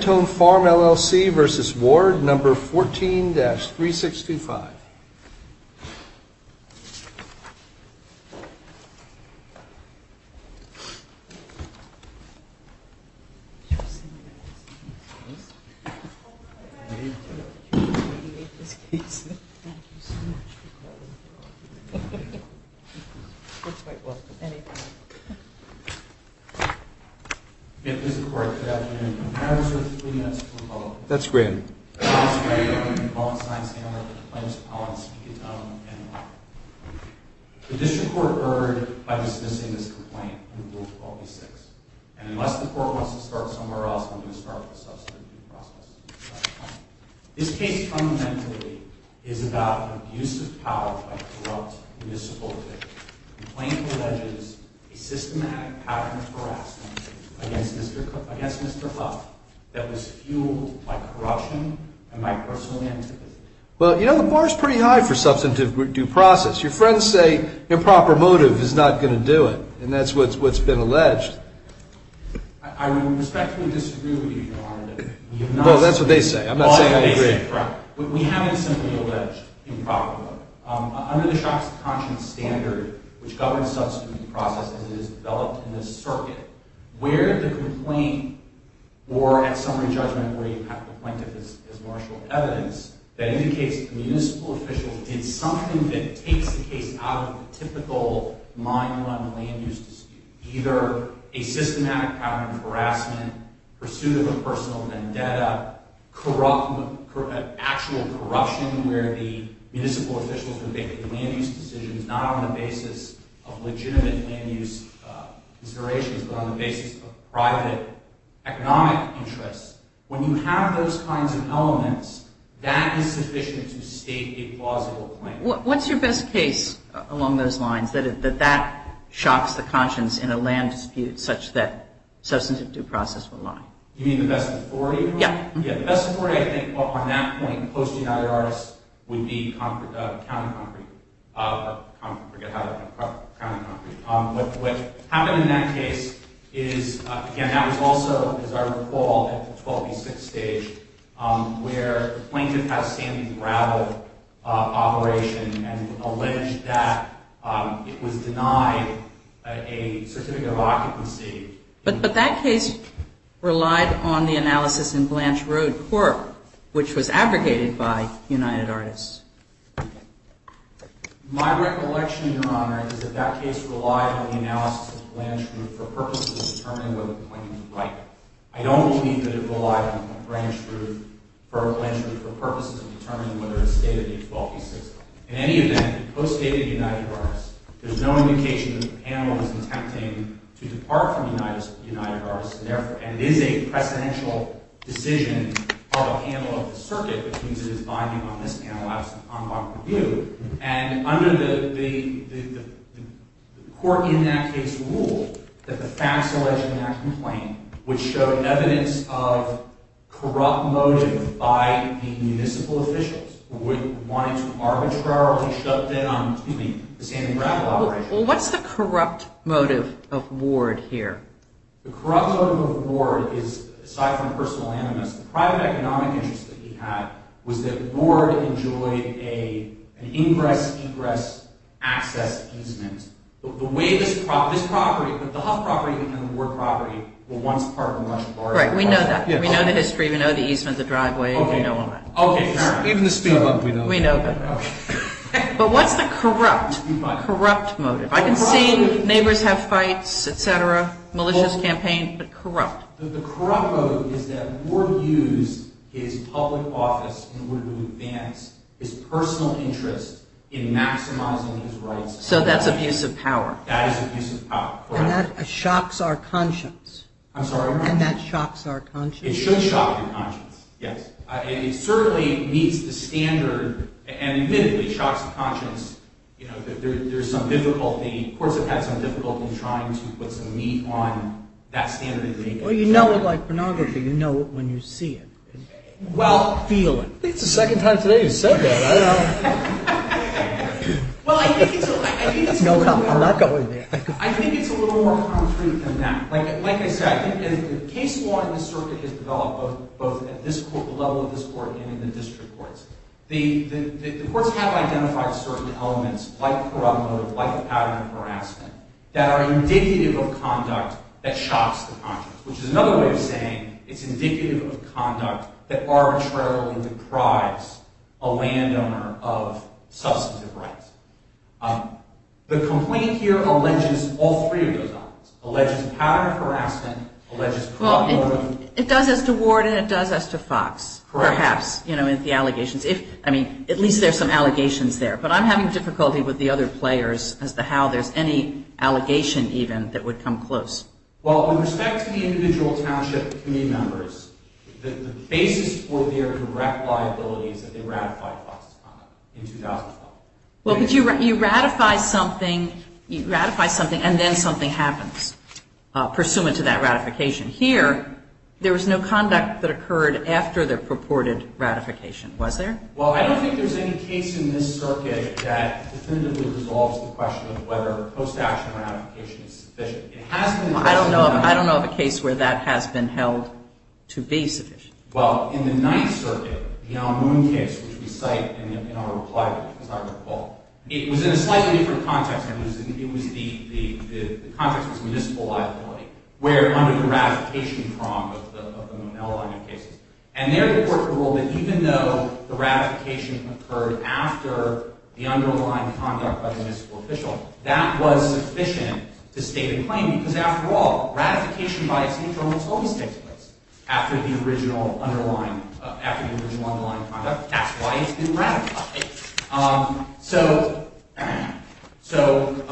LLC v. Ward No. 14-3625 The District Court erred by dismissing this complaint from Rule 12-B-6, and unless the Court wants to start somewhere else, I'm going to start with the substitute process. This case, fundamentally, is about an abuse of power by corrupt municipal officials. The complaint alleges a systematic pattern of harassment against Mr. Huff that was fueled by corruption and by personal antipathy. Well, you know, the bar is pretty high for substantive due process. Your friends say improper motive is not going to do it, and that's what's been alleged. I respectfully disagree with you, Your Honor. Well, that's what they say. I'm not saying I agree. We haven't simply alleged improper motive. Under the Shocks of Conscience standard, which governs substantive due process as it is developed in this circuit, where the complaint, or at summary judgment, where you have the plaintiff as marshal of evidence, that indicates that the municipal official did something that takes the case out of the typical mine run, land use dispute. Either a systematic pattern of harassment, pursuit of a personal vendetta, actual corruption where the municipal officials were making land use decisions, not on the basis of legitimate land use considerations, but on the basis of private economic interests. When you have those kinds of elements, that is sufficient to state a plausible claim. What's your best case along those lines, that that shocks the conscience in a land dispute such that substantive due process would lie? You mean the best authority? Yeah. The best authority, I think, on that point, close to the United Artists, would be counter-concrete. I forget how to pronounce it. What happened in that case is, again, that was also, as I recall, at the 12B6 stage, where the plaintiff has standing gravel operation and alleged that it was denied a certificate of occupancy. But that case relied on the analysis in Blanche Road Court, which was abrogated by United Artists. My recollection, Your Honor, is that that case relied on the analysis of Blanche Road for purposes of determining whether the plaintiff was right. I don't believe that it relied on Blanche Road for purposes of determining whether it stated in 12B6. In any event, it co-stated United Artists. There's no indication that the panel was attempting to depart from United Artists. And it is a precedential decision of a panel of the circuit, which means it is binding on this panel. That was an en bloc review. And under the court in that case ruled that the facts alleged in that complaint would show evidence of corrupt motive by the municipal officials who wanted to arbitrarily shut down the standing gravel operation. Well, what's the corrupt motive of Ward here? The corrupt motive of Ward is, aside from personal animus, the private economic interest that he had was that Ward enjoyed an ingress, egress, access easement. The way this property, this property, the Huff property and the Ward property were once part of the Russian border. Right. We know that. We know the history. We know the easement, the driveway. We know all that. Okay. Even the speed bump, we know that. We know that. Okay. But what's the corrupt, corrupt motive? I can see neighbors have fights, et cetera, malicious campaign, but corrupt? The corrupt motive is that Ward used his public office in order to advance his personal interest in maximizing his rights. So that's abuse of power. That is abuse of power. Correct. And that shocks our conscience. I'm sorry? And that shocks our conscience. It should shock your conscience. Yes. And it certainly meets the standard, and admittedly shocks the conscience, you know, that there's some difficulty, courts have had some difficulty trying to put some meat on that standard of conduct. But you know it like pornography, you know it when you see it. Well. Feel it. I think it's the second time today you've said that. I don't know. Well, I think it's a little more concrete than that. Like I said, I think that the case law in the circuit has developed both at this level of this court and in the district courts. The courts have identified certain elements, like the corrupt motive, like the pattern of harassment, that are indicative of conduct that shocks the conscience, which is another way of saying it's indicative of conduct that arbitrarily deprives a landowner of substantive rights. The complaint here alleges all three of those elements, alleges pattern of harassment, alleges corrupt motive. Well, it does as to Ward, and it does as to Fox. Correct. Perhaps, you know, with the allegations. If, I mean, at least there's some allegations there. But I'm having difficulty with the other players as to how there's any allegation even that would come close. Well, with respect to the individual township community members, the basis for their direct liability is that they ratified Fox's conduct in 2012. Well, but you ratify something, and then something happens pursuant to that ratification. Here, there was no conduct that occurred after the purported ratification, was there? Well, I don't think there's any case in this circuit that definitively resolves the question of whether post-action ratification is sufficient. Well, I don't know of a case where that has been held to be sufficient. Well, in the Ninth Circuit, the Amun case, which we cite in our reply, as I recall, it was in a slightly different context. It was the context of municipal liability, where under the ratification prong of the Monell line of cases. And there, the court ruled that even though the ratification occurred after the underlying conduct by the municipal official, that was sufficient to state a claim. Because, after all, ratification by a state government always takes place after the original underlying conduct. That's why it's been ratified. So,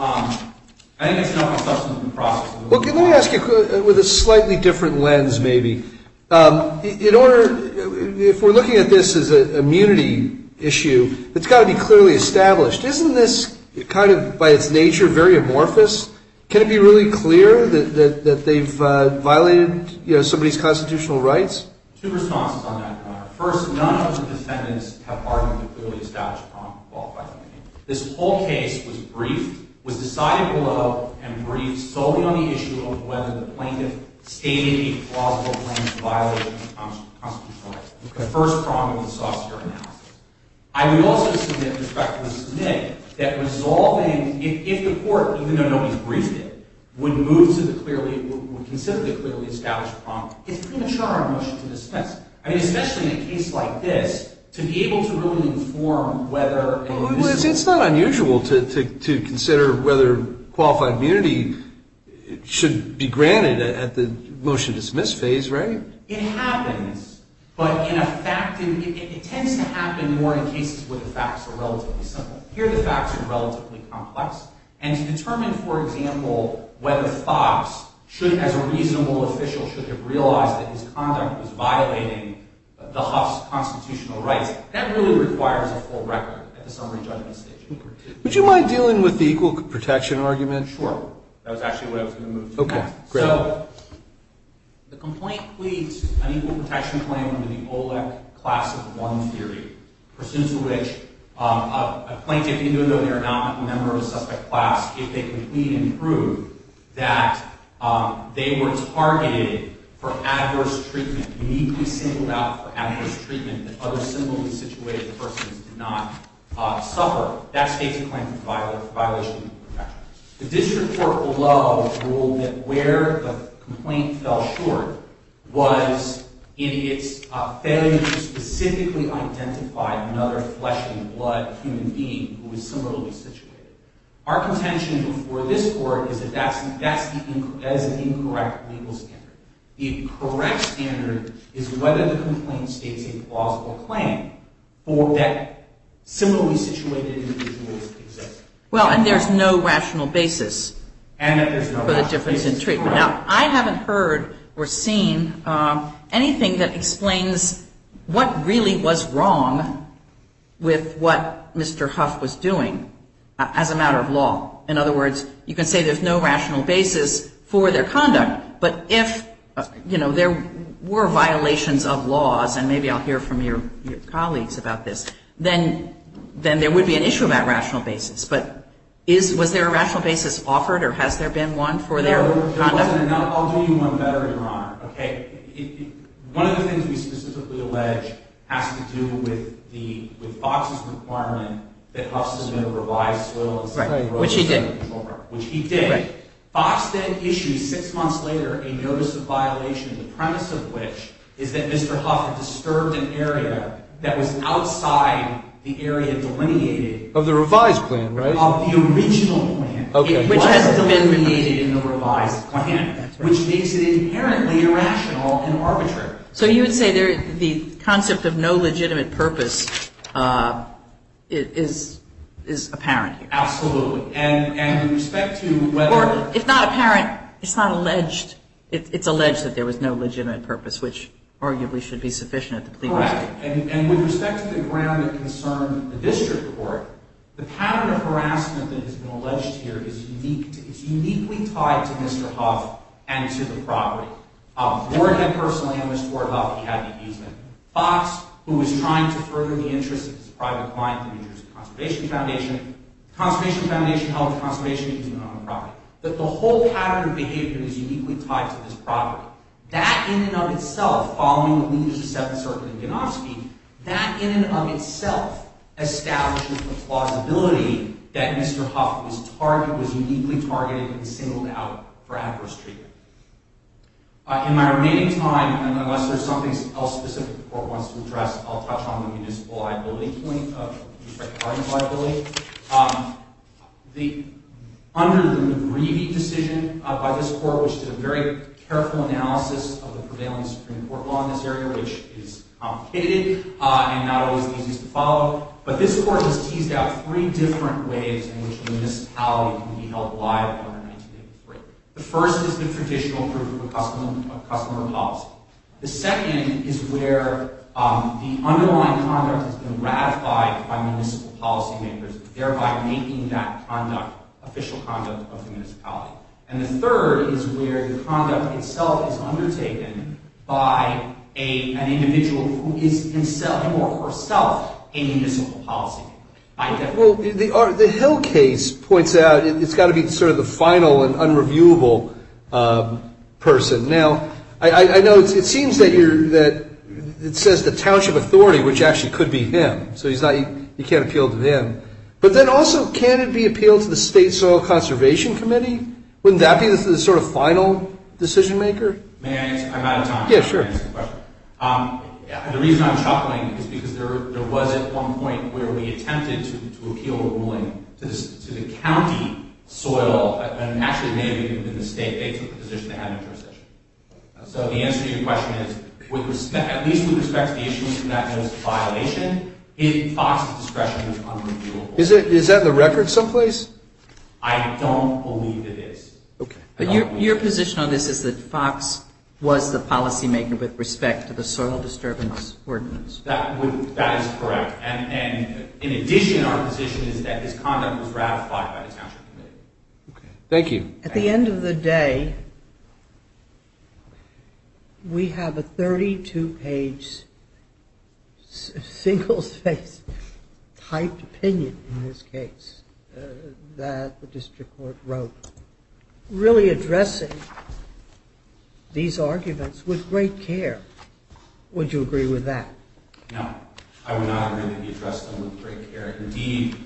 I think it's not a substantive process. Well, can I ask you a question with a slightly different lens, maybe? In order, if we're looking at this as an immunity issue, it's got to be clearly established. Isn't this kind of, by its nature, very amorphous? Can it be really clear that they've violated, you know, somebody's constitutional rights? Two responses on that, Your Honor. First, none of the defendants have argued a clearly established prong involved by the plaintiff. This whole case was briefed, was decided below, and briefed solely on the issue of whether the plaintiff stated a plausible claim to violate constitutional rights. The first prong was the saucer analysis. I would also submit, with respect to the submit, that resolving, if the court, even though nobody's briefed it, would move to the clearly, would consider the clearly established prong, it's premature on motion to dismiss. I mean, especially in a case like this, to be able to really inform whether... Well, it's not unusual to consider whether qualified immunity should be granted at the motion to dismiss phase, right? It happens. But in a fact... It tends to happen more in cases where the facts are relatively simple. Here, the facts are relatively complex. And to determine, for example, whether Fox, as a reasonable official, should have realized that his conduct was violating the Huff's constitutional rights, that really requires a full record at the summary judgment stage. Would you mind dealing with the equal protection argument? Sure. That was actually what I was going to move to next. Okay, great. So the complaint pleads an equal protection claim under the OLEC class of one theory, pursuant to which a plaintiff, even though they are not a member of the subject class, if they can plead and prove that they were targeted for adverse treatment, uniquely singled out for adverse treatment, that other similarly situated persons did not suffer, that states a claim for violation of equal protection. The district court below ruled that where the complaint fell short was in its failure to specifically identify another flesh and blood human being who was similarly situated. Our contention before this court is that that's an incorrect legal standard. The correct standard is whether the complaint states a plausible claim for that similarly situated individual's existence. Well, and there's no rational basis for the difference in treatment. Now, I haven't heard or seen anything that explains what really was wrong with what Mr. Huff was doing as a matter of law. In other words, you can say there's no rational basis for their conduct, but if there were violations of laws, and maybe I'll hear from your colleagues about this, then there would be an issue about rational basis. But was there a rational basis offered, or has there been one for their conduct? No, there wasn't. And I'll do you one better, Your Honor. Okay? One of the things we specifically allege has to do with Fox's requirement that Huff submit a revised will and say he wrote it under control. Right. Which he did. Which he did. Right. Fox then issued, six months later, a notice of violation, the premise of which is that Of the revised plan, right? Of the original plan. Okay. Which hasn't been remediated in the revised plan. That's right. Which makes it inherently irrational and arbitrary. So you would say the concept of no legitimate purpose is apparent here? Absolutely. And with respect to whether... Or, if not apparent, it's not alleged. It's alleged that there was no legitimate purpose, which arguably should be sufficient at the plea trial. That's right. And with respect to the ground that concerned the district court, the pattern of harassment that has been alleged here is uniquely tied to Mr. Huff and to the property. Warhead personally and Mr. Ward Huff, he had an amusement. Fox, who was trying to further the interests of his private client, the New Jersey Conservation Foundation, the Conservation Foundation held the Conservation Agency to own the property. The whole pattern of behavior is uniquely tied to this property. That in and of itself, following the E-7 circuit in Ganofsky, that in and of itself establishes the plausibility that Mr. Huff was uniquely targeted and singled out for adverse treatment. In my remaining time, and unless there's something else specific the court wants to address, I'll touch on the municipal liability point of district guardians liability. Under the McGreevey decision by this court, which did a very careful analysis of the prevailing Supreme Court law in this area, which is complicated and not always easy to follow. But this court has teased out three different ways in which municipality can be held liable under 1983. The first is the traditional proof of customer policy. The second is where the underlying conduct has been ratified by municipal policy makers, thereby making that official conduct of the municipality. And the third is where the conduct itself is undertaken by an individual who is himself a municipal policy maker. Well, the Hill case points out it's got to be sort of the final and unreviewable person. Now, I know it seems that it says the township authority, which actually could be him, so you can't appeal to him. But then also, can it be appealed to the State Soil Conservation Committee? Wouldn't that be the sort of final decision maker? May I answer? I'm out of time. Yeah, sure. The reason I'm chuckling is because there was at one point where we attempted to appeal a ruling to the county soil, and actually it may have even been the state, based on the position they had in the jurisdiction. So the answer to your question is, at least with respect to the issues from that notice of violation, if FOX's discretion is unreviewable. Is that in the record someplace? I don't believe it is. Okay. But your position on this is that FOX was the policy maker with respect to the soil disturbance ordinance. That is correct. And in addition, our position is that his conduct was ratified by the township committee. Okay. Thank you. At the end of the day, we have a 32-page single-faced typed opinion in this case that the district court wrote, really addressing these arguments with great care. Would you agree with that? No. I would not agree that he addressed them with great care. Indeed,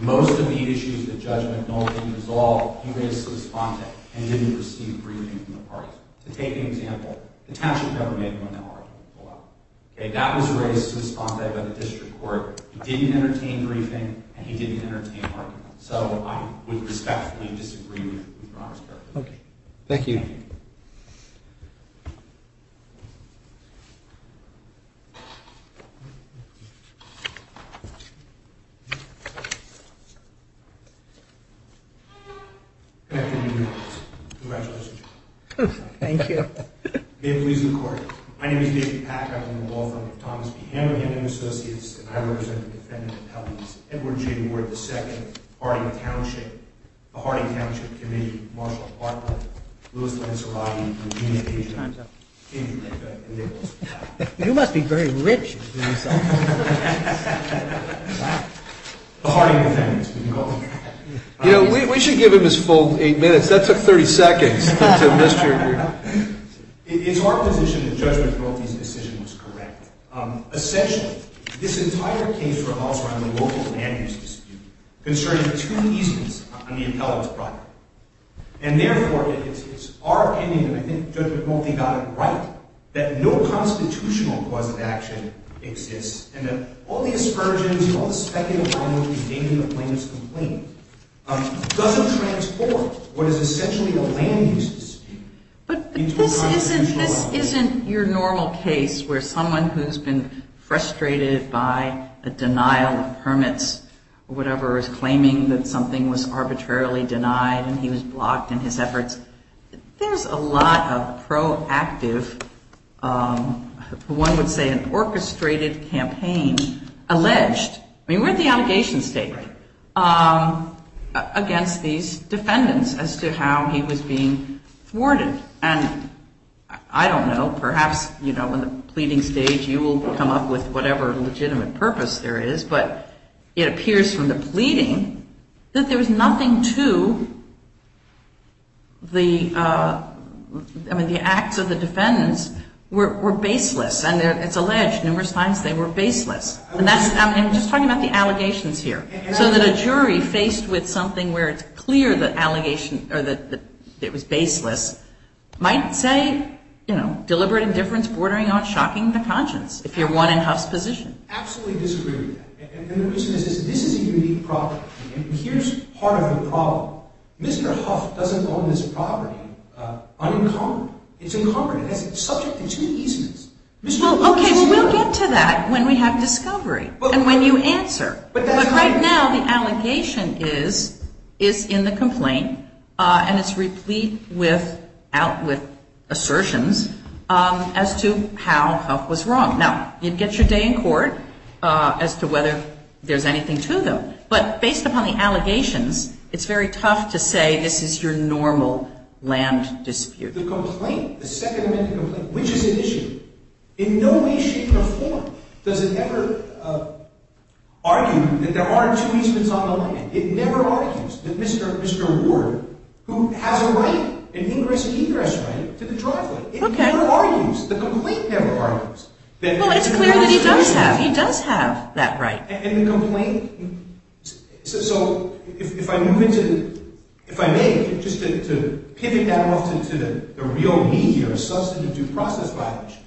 most of the issues that Judge McNulty resolved, he raised to his sponte, and he didn't receive a briefing from the parties. To take an example, the township never made him an argument. Okay. That was raised to his sponte by the district court. He didn't entertain a briefing, and he didn't entertain an argument. So I would respectfully disagree with your Honor's character. Okay. Thank you. Thank you. My name is David Pack. I'm on the law firm of Thomas P. Hamilton and Associates, and I represent the defendant of Helms, Edward J. Ward II, Harding Township, the Harding Township Committee, Marshall Harper, Louis Lanserati, You must be very rich. You know, we should give him his full eight minutes. That took 30 seconds. It's our position that Judge McNulty's decision was correct. Essentially, this entire case revolves around the local land use dispute concerning two easements on the appellant's property. And therefore, it's our opinion, and I think Judge McNulty got it right, that no constitutional cause of action exists, and that all the aspersions and all the speculative language contained in the plaintiff's complaint doesn't transport what is essentially a land use dispute into a constitutional argument. But this isn't your normal case, where someone who's been frustrated by a denial of permits or whatever is claiming that something was arbitrarily denied and he was blocked in his efforts. There's a lot of proactive, one would say an orchestrated campaign, alleged, I mean, we're at the allegation stage, against these defendants as to how he was being thwarted. And I don't know, perhaps, you know, in the pleading stage, you will come up with whatever legitimate purpose there is, but it appears from the pleading that there was nothing to the, I mean, the acts of the defendants were baseless, and it's alleged numerous times they were baseless. And that's, I'm just talking about the allegations here. So that a jury faced with something where it's clear that allegation, or that it was baseless, might say, you know, deliberate indifference, bordering on shocking the conscience, if you're one in Huff's position. I absolutely disagree with that. And the reason is this is a unique property. And here's part of the problem. Mr. Huff doesn't own this property unencumbered. It's encumbered. It's subject to two easements. Okay, well, we'll get to that when we have discovery and when you answer. But right now the allegation is in the complaint, and it's replete with assertions as to how Huff was wrong. Now, you'd get your day in court as to whether there's anything to them. But based upon the allegations, it's very tough to say this is your normal land dispute. The complaint, the Second Amendment complaint, which is an issue, in no way, shape, or form does it ever argue that there aren't two easements on the land. It never argues that Mr. Ward, who has a right, an ingress and egress right to the driveway, it never argues, the complaint never argues. Well, it's clear that he does have, he does have that right. And the complaint, so if I move into, if I may, just to pivot that off to the real meat here, a substantive due process violation,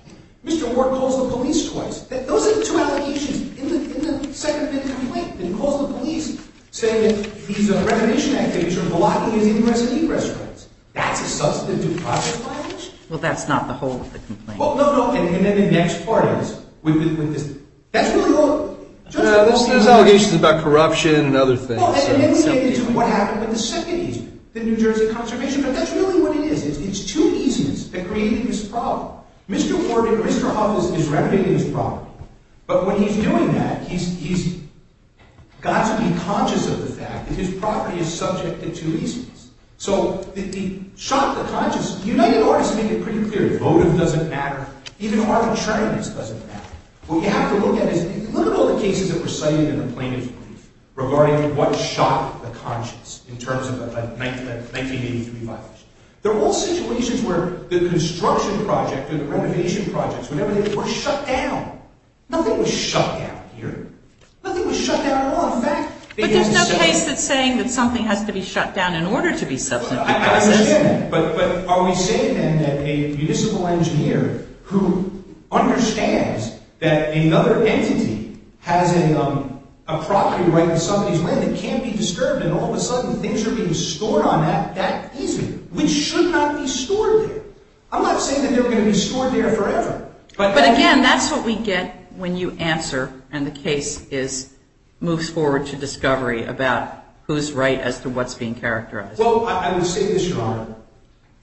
Mr. Ward calls the police twice. Those are the two allegations in the Second Amendment complaint that he calls the police, saying that he's a recognition activist, you're blocking his ingress and egress rights. That's a substantive due process violation? Well, that's not the whole of the complaint. Well, no, no, and then the next part is, with this, that's really all. Yeah, there's allegations about corruption and other things. Well, and then we get into what happened with the second easement, the New Jersey Conservation, but that's really what it is, it's two easements that created this problem. Mr. Ward and Mr. Huff is renovating this property, but when he's doing that, he's got to be conscious of the fact that his property is subject to two easements. So he shot the conscience. United Artists make it pretty clear, votive doesn't matter, even arbitrariness doesn't matter. What you have to look at is, look at all the cases that were cited in the plaintiff's brief regarding what shot the conscience in terms of a 1983 violation. They're all situations where the construction project or the renovation projects, whenever they were shut down, nothing was shut down here. Nothing was shut down at all. But there's no case that's saying that something has to be shut down in order to be substantive. I understand, but are we saying then that a municipal engineer who understands that another entity has a property right in somebody's land that can't be disturbed and all of a sudden things are being stored on that easement, which should not be stored there. I'm not saying that they're going to be stored there forever. But again, that's what we get when you answer and the case moves forward to discovery about who's right as to what's being characterized. Well, I would say this, Your Honor.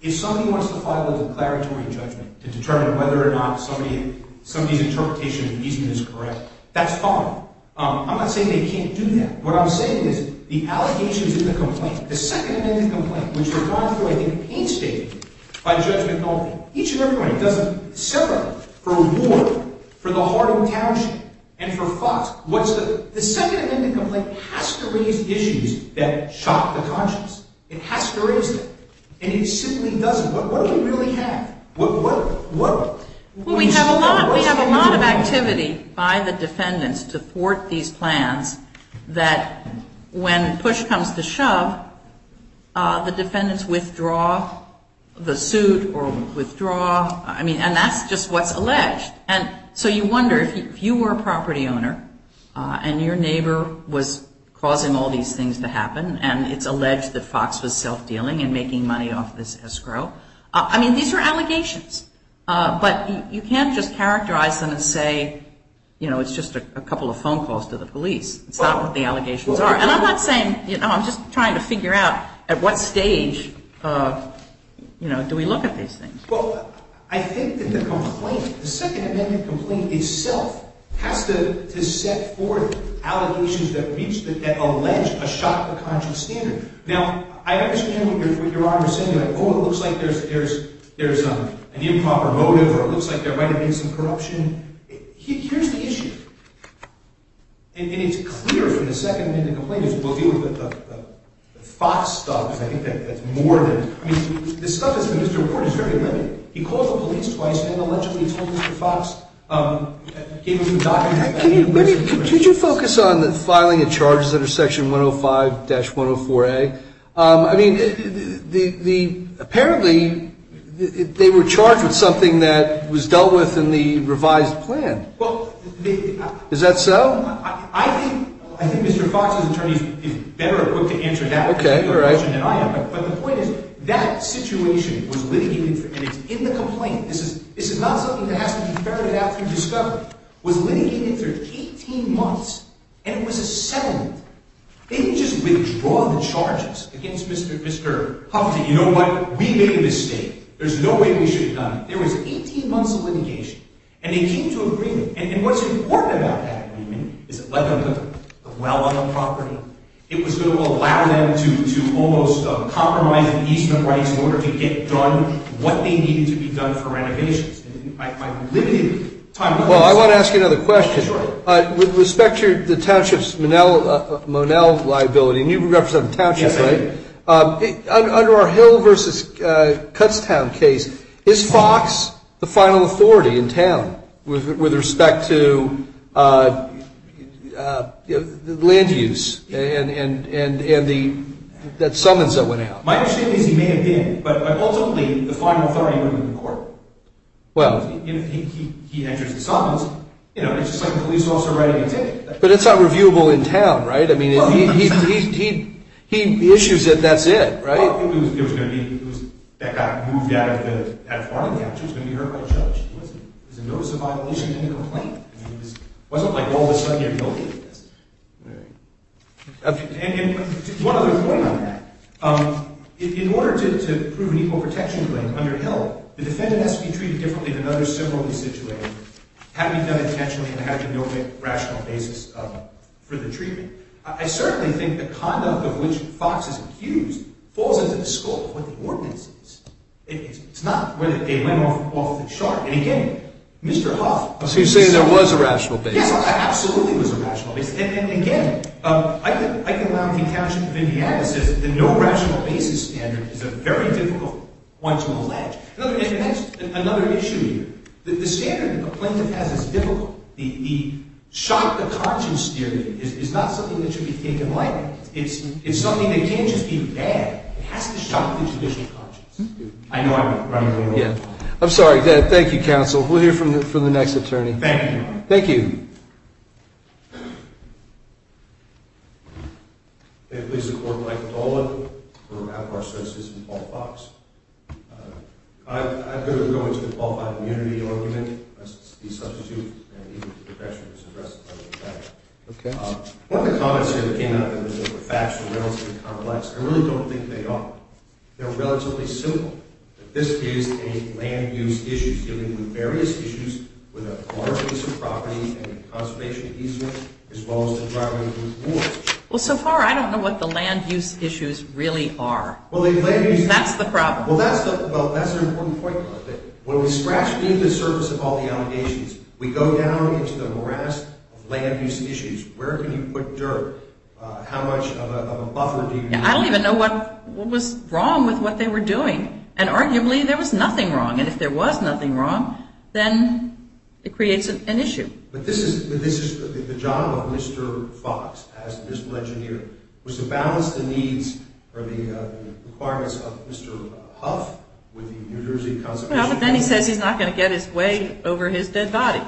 If somebody wants to file a declaratory judgment to determine whether or not somebody's interpretation of the easement is correct, that's fine. I'm not saying they can't do that. What I'm saying is the allegations in the complaint, the second amendment complaint, which we're going through, I think, painstakingly, by judgment only, each and every one of them does it separately for reward, for the heart of the township, and for FOX. The second amendment complaint has to raise issues that shock the conscience. It has to raise them. And it simply doesn't. What do we really have? Well, we have a lot of activity by the defendants to thwart these plans that when push comes to shove, the defendants withdraw the suit or withdraw. I mean, and that's just what's alleged. And so you wonder, if you were a property owner and your neighbor was causing all these things to happen and it's alleged that FOX was self-dealing and making money off this escrow, I mean, these are allegations. But you can't just characterize them and say, you know, it's just a couple of phone calls to the police. It's not what the allegations are. And I'm not saying, you know, I'm just trying to figure out at what stage, you know, do we look at these things. Well, I think that the complaint, the second amendment complaint itself has to set forth allegations that reach, that allege a shock to the conscience standard. Now, I understand what Your Honor is saying, like, oh, it looks like there's an improper motive or it looks like there might have been some corruption. Here's the issue. And it's clear from the second amendment complaint that we'll deal with the FOX stuff, because I think that's more than, I mean, the stuff that's in the report is very limited. He called the police twice and allegedly told Mr. FOX, gave him the documents. Could you focus on the filing of charges under Section 105-104A? I mean, apparently they were charged with something that was dealt with in the revised plan. Is that so? I think Mr. FOX's attorney is better equipped to answer that question than I am. But the point is, that situation was litigated for, and it's in the complaint. This is not something that has to be ferreted out through discovery. It was litigated for 18 months, and it was a settlement. They didn't just withdraw the charges against Mr. Hufty. You know what, we made a mistake. There's no way we should have done it. There was 18 months of litigation, and they came to agreement. And what's important about that agreement is that, let alone the well on the property, it was going to allow them to almost compromise the easement rights in order to get done what they needed to be done for renovations. And my limited time to answer that. Well, I want to ask you another question. Sure. With respect to the township's Monell liability, and you represent the township, right? Yes, I do. Under our Hill v. Cutstown case, is Fox the final authority in town with respect to land use and that summons that went out? My understanding is he may have been, but ultimately the final authority would have been the court. Well. If he enters the summons, you know, it's just like a police officer writing a ticket. But it's unreviewable in town, right? I mean, he issues it, that's it, right? Well, I think it was going to be that got moved out of the farmhouse. It was going to be heard by a judge. It was a notice of violation and a complaint. I mean, it wasn't like all of a sudden you're guilty of this. Right. And one other point on that. In order to prove an equal protection claim under Hill, the defendant has to be treated differently than others similarly situated, having done it intentionally and having no rational basis for the treatment. I certainly think the conduct of which Fox is accused falls into the scope of what the ordinance is. It's not whether they went off the chart. And again, Mr. Huff. So you're saying there was a rational basis? Yes, absolutely there was a rational basis. And again, I can allow the account of Indiana that says that the no rational basis standard is a very difficult one to allege. And that's another issue here. The standard the complainant has is difficult. The shock to conscience theory is not something that should be taken lightly. It's something that can't just be bad. It has to shock the judicial conscience. I know I'm running a little behind. I'm sorry. Thank you, counsel. We'll hear from the next attorney. Thank you. Thank you. Thank you. Please support Mike Dolan for out of our services and Paul Fox. I'm going to go into the Paul Fox immunity argument as the substitute. One of the comments here that came out of it is that the facts are relatively complex. I really don't think they are. They're relatively simple. This is a land use issue dealing with various issues with a large piece of property and a conservation easement as well as the driving force. Well, so far I don't know what the land use issues really are. That's the problem. Well, that's an important point. When we scratch beneath the surface of all the allegations, we go down into the morass of land use issues. Where can you put dirt? How much of a buffer do you need? I don't even know what was wrong with what they were doing. And arguably there was nothing wrong. And if there was nothing wrong, then it creates an issue. But this is the job of Mr. Fox as the municipal engineer was to balance the needs or the requirements of Mr. Huff with the New Jersey conservation. Well, but then he says he's not going to get his way over his dead body.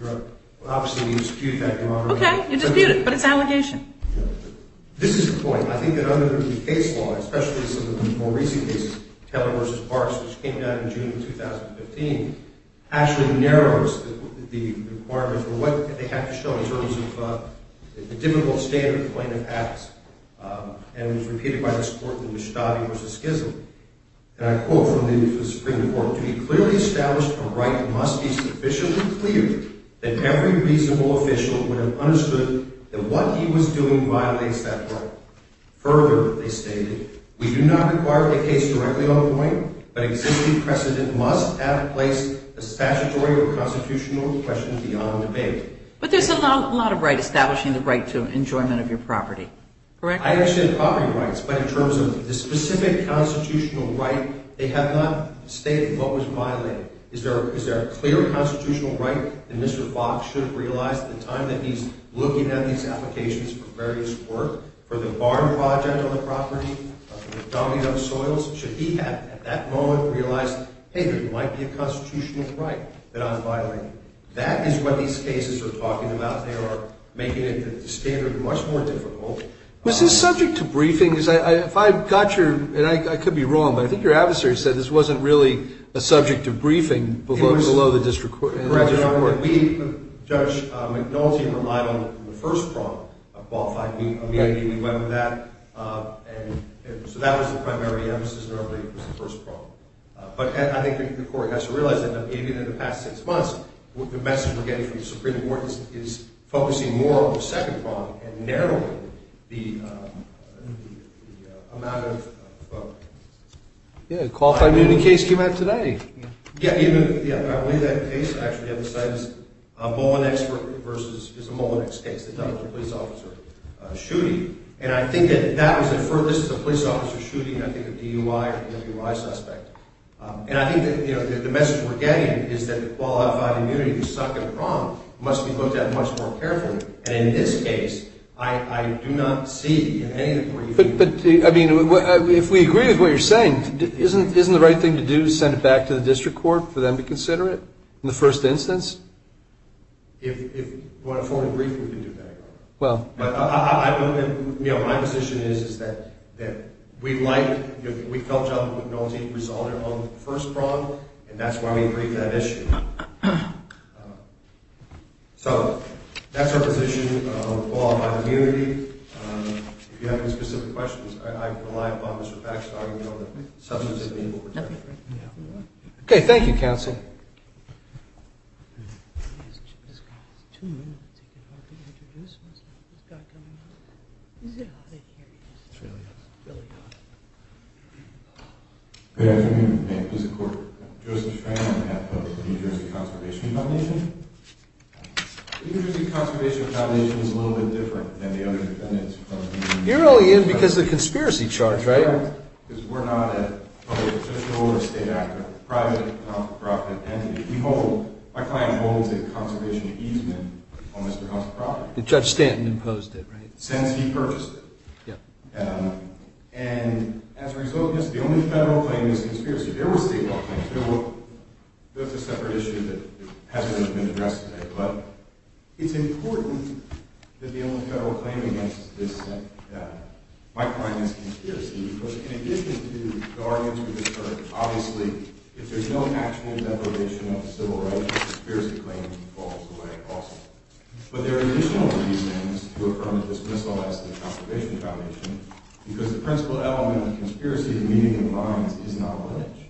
Well, obviously we dispute that. Okay, you dispute it, but it's an allegation. This is the point. I think that under the case law, especially some of the more recent cases, Taylor v. Parks, which came down in June of 2015, actually narrows the requirements of what they have to show in terms of the difficult standard plaintiff has. And it was repeated by this court in the Vestati v. Schism. And I quote from the Supreme Court, a right must be sufficiently clear that every reasonable official would have understood that what he was doing violates that right. Further, they stated, But there's a lot of right, establishing the right to enjoyment of your property, correct? I understand property rights. But in terms of the specific constitutional right, they have not stated what was violated. Is there a clear constitutional right that Mr. Fox should have realized at the time that he's looking at these applications for various work? For the barn project on the property? Dogging up soils? Should he have, at that moment, realized, hey, there might be a constitutional right that I'm violating? That is what these cases are talking about. They are making the standard much more difficult. Was this subject to briefings? If I got your, and I could be wrong, but I think your adversary said this wasn't really a subject to briefing below the district court. Correct. We, Judge McNulty, relied on the first prong of qualified immunity. We went with that. And so that was the primary emphasis in our brief was the first prong. But I think the court has to realize that even in the past six months, the message we're getting from the Supreme Court is focusing more on the second prong and narrowing the amount of folks. Yeah, a qualified immunity case came out today. Yeah, I believe that case. Actually, the other side is a Mullinex case that dealt with a police officer shooting. And I think that that was inferred. This is a police officer shooting, I think, a DUI or WUI suspect. And I think that the message we're getting is that the qualified immunity, the second prong, must be looked at much more carefully. And in this case, I do not see in any of the briefings. But, I mean, if we agree with what you're saying, isn't the right thing to do, send it back to the district court for them to consider it in the first instance? If we want a formal briefing, we can do that. My position is that we felt John McNulty resolved it on the first prong, and that's why we agreed to that issue. So that's our position on the law on immunity. If you have any specific questions, I rely upon Mr. Paxton on the substantive legal protection. Okay, thank you, counsel. Yes, sir. Good afternoon. Joseph Frank on behalf of the New Jersey Conservation Foundation. The New Jersey Conservation Foundation is a little bit different than the other dependents. You're only in because of the conspiracy charge, right? Because we're not a public official or a state actor. We're a private nonprofit entity. We hold, my client holds a conservation easement on Mr. Huff's property. Judge Stanton imposed it, right? Since he purchased it. And as a result of this, the only federal claim is conspiracy. There were state law claims. That's a separate issue that hasn't been addressed today. But it's important that the only federal claim against this, my client, is conspiracy. Because in addition to the arguments we've heard, obviously, if there's no actual depredation of civil rights, the conspiracy claim falls away also. But there are additional reasons to affirm that this missile has the conservation foundation. Because the principal element of conspiracy, the meaning of violence, is not lineage.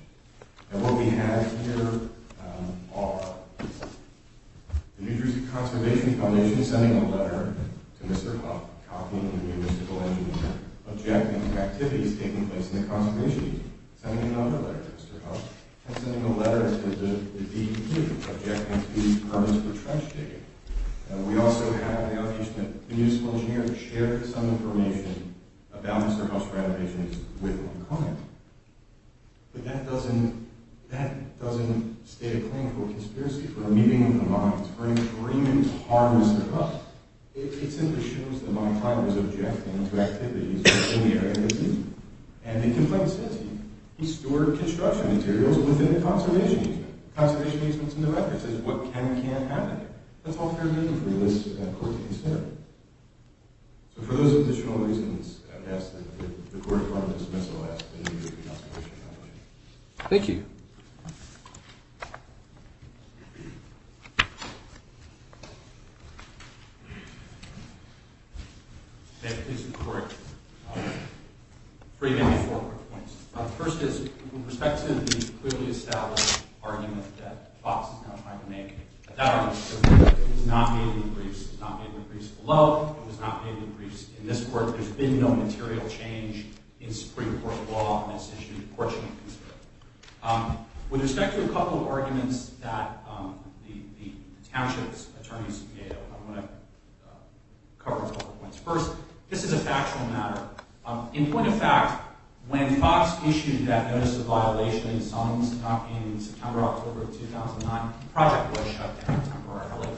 And what we have here are the New Jersey Conservation Foundation sending a letter to Mr. Huff, copying the municipal engineer, objecting to activities taking place in the conservation easement. Sending another letter to Mr. Huff. And sending a letter to the DEQ, objecting to permits for trench digging. And we also have the official municipal engineer share some information about Mr. Huff's renovations with my client. But that doesn't state a claim for conspiracy, for meeting of the minds, or even harm Mr. Huff. It simply shows that my client was objecting to activities in the area of the easement. And the complaint says he stored construction materials within the conservation easement. Conservation easement's in the record. It says what can and can't happen. That's all fair reading from this court case here. So for those additional reasons, I would ask that the court confirm this missile has the New Jersey Conservation Foundation. Thank you. Thank you, Mr. Court. Pretty many forward points. First is, with respect to the clearly established argument that Fox is now trying to make, that argument is not made in the briefs. It's not made in the briefs below. It was not made in the briefs in this court. There's been no material change in Supreme Court law on this issue, fortunately. With respect to a couple of arguments that the township's attorneys made, I'm going to cover a couple of points. First, this is a factual matter. In point of fact, when Fox issued that notice of violation in September, October of 2009, the project was shut down temporarily.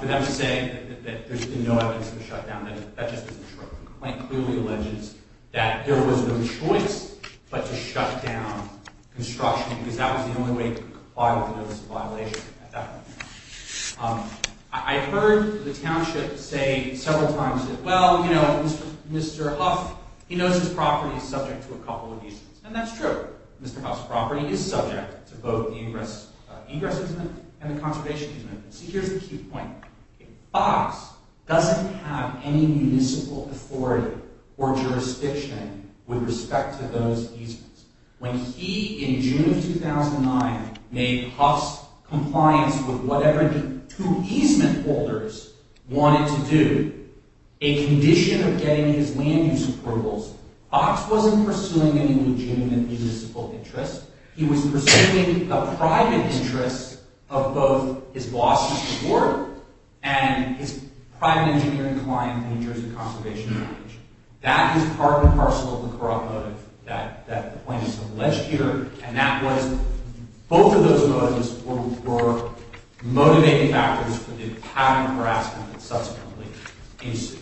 For them to say that there's been no evidence of a shutdown, that just isn't true. The complaint clearly alleges that there was no choice but to shut down construction because that was the only way to comply with the notice of violation at that point. I heard the township say several times, well, you know, Mr. Huff, he knows his property is subject to a couple of easements. And that's true. Mr. Huff's property is subject to both the ingress easement and the conservation easement. So here's the key point. Fox doesn't have any municipal authority or jurisdiction with respect to those easements. When he, in June of 2009, made Huff's compliance with whatever the two easement holders wanted to do, a condition of getting his land use approvals, Fox wasn't pursuing any legitimate municipal interest. He was pursuing a private interest of both his boss's support and his private engineering client's interest in conservation knowledge. That is part and parcel of the corrupt motive that the plaintiff has alleged here. And that was, both of those motives were motivating factors for the pattern of harassment that subsequently ensued.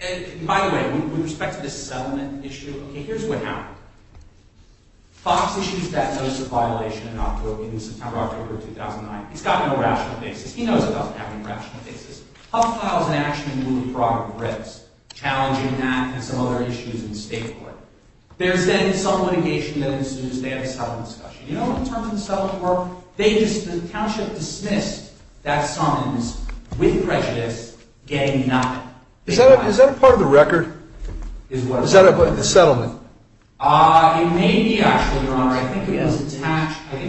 And, by the way, with respect to the settlement issue, here's what happened. Fox issues that notice of violation in September, October of 2009. He's got no rational basis. He knows it doesn't have any rational basis. Huff files an action in lieu of prerogative of risk, challenging that and some other issues in the state court. There's then some litigation that ensues. They have a settlement discussion. You know what the terms of the settlement were? The township dismissed that summons with prejudice, getting nothing. Is that a part of the record? Is what? Is that a part of the settlement? It may be, actually, Your Honor. I think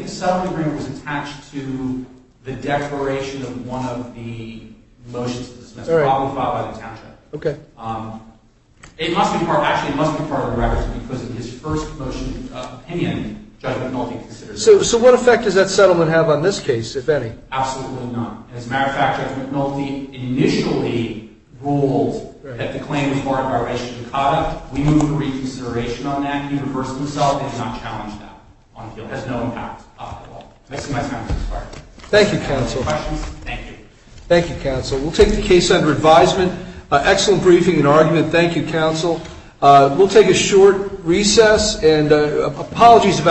the settlement agreement was attached to the declaration of one of the motions that was dismissed, probably filed by the township. It must be part of the records because of his first motion of opinion. So what effect does that settlement have on this case, if any? Absolutely none. As a matter of fact, Judge McNulty initially ruled that the claim was part of violation of conduct. We move to reconsideration on that universally itself and do not challenge that on appeal. It has no impact on the law. Thank you, Counsel. Thank you. Thank you, Counsel. We'll take the case under advisement. Excellent briefing and argument. Thank you, Counsel. We'll take a short recess. Apologies about that.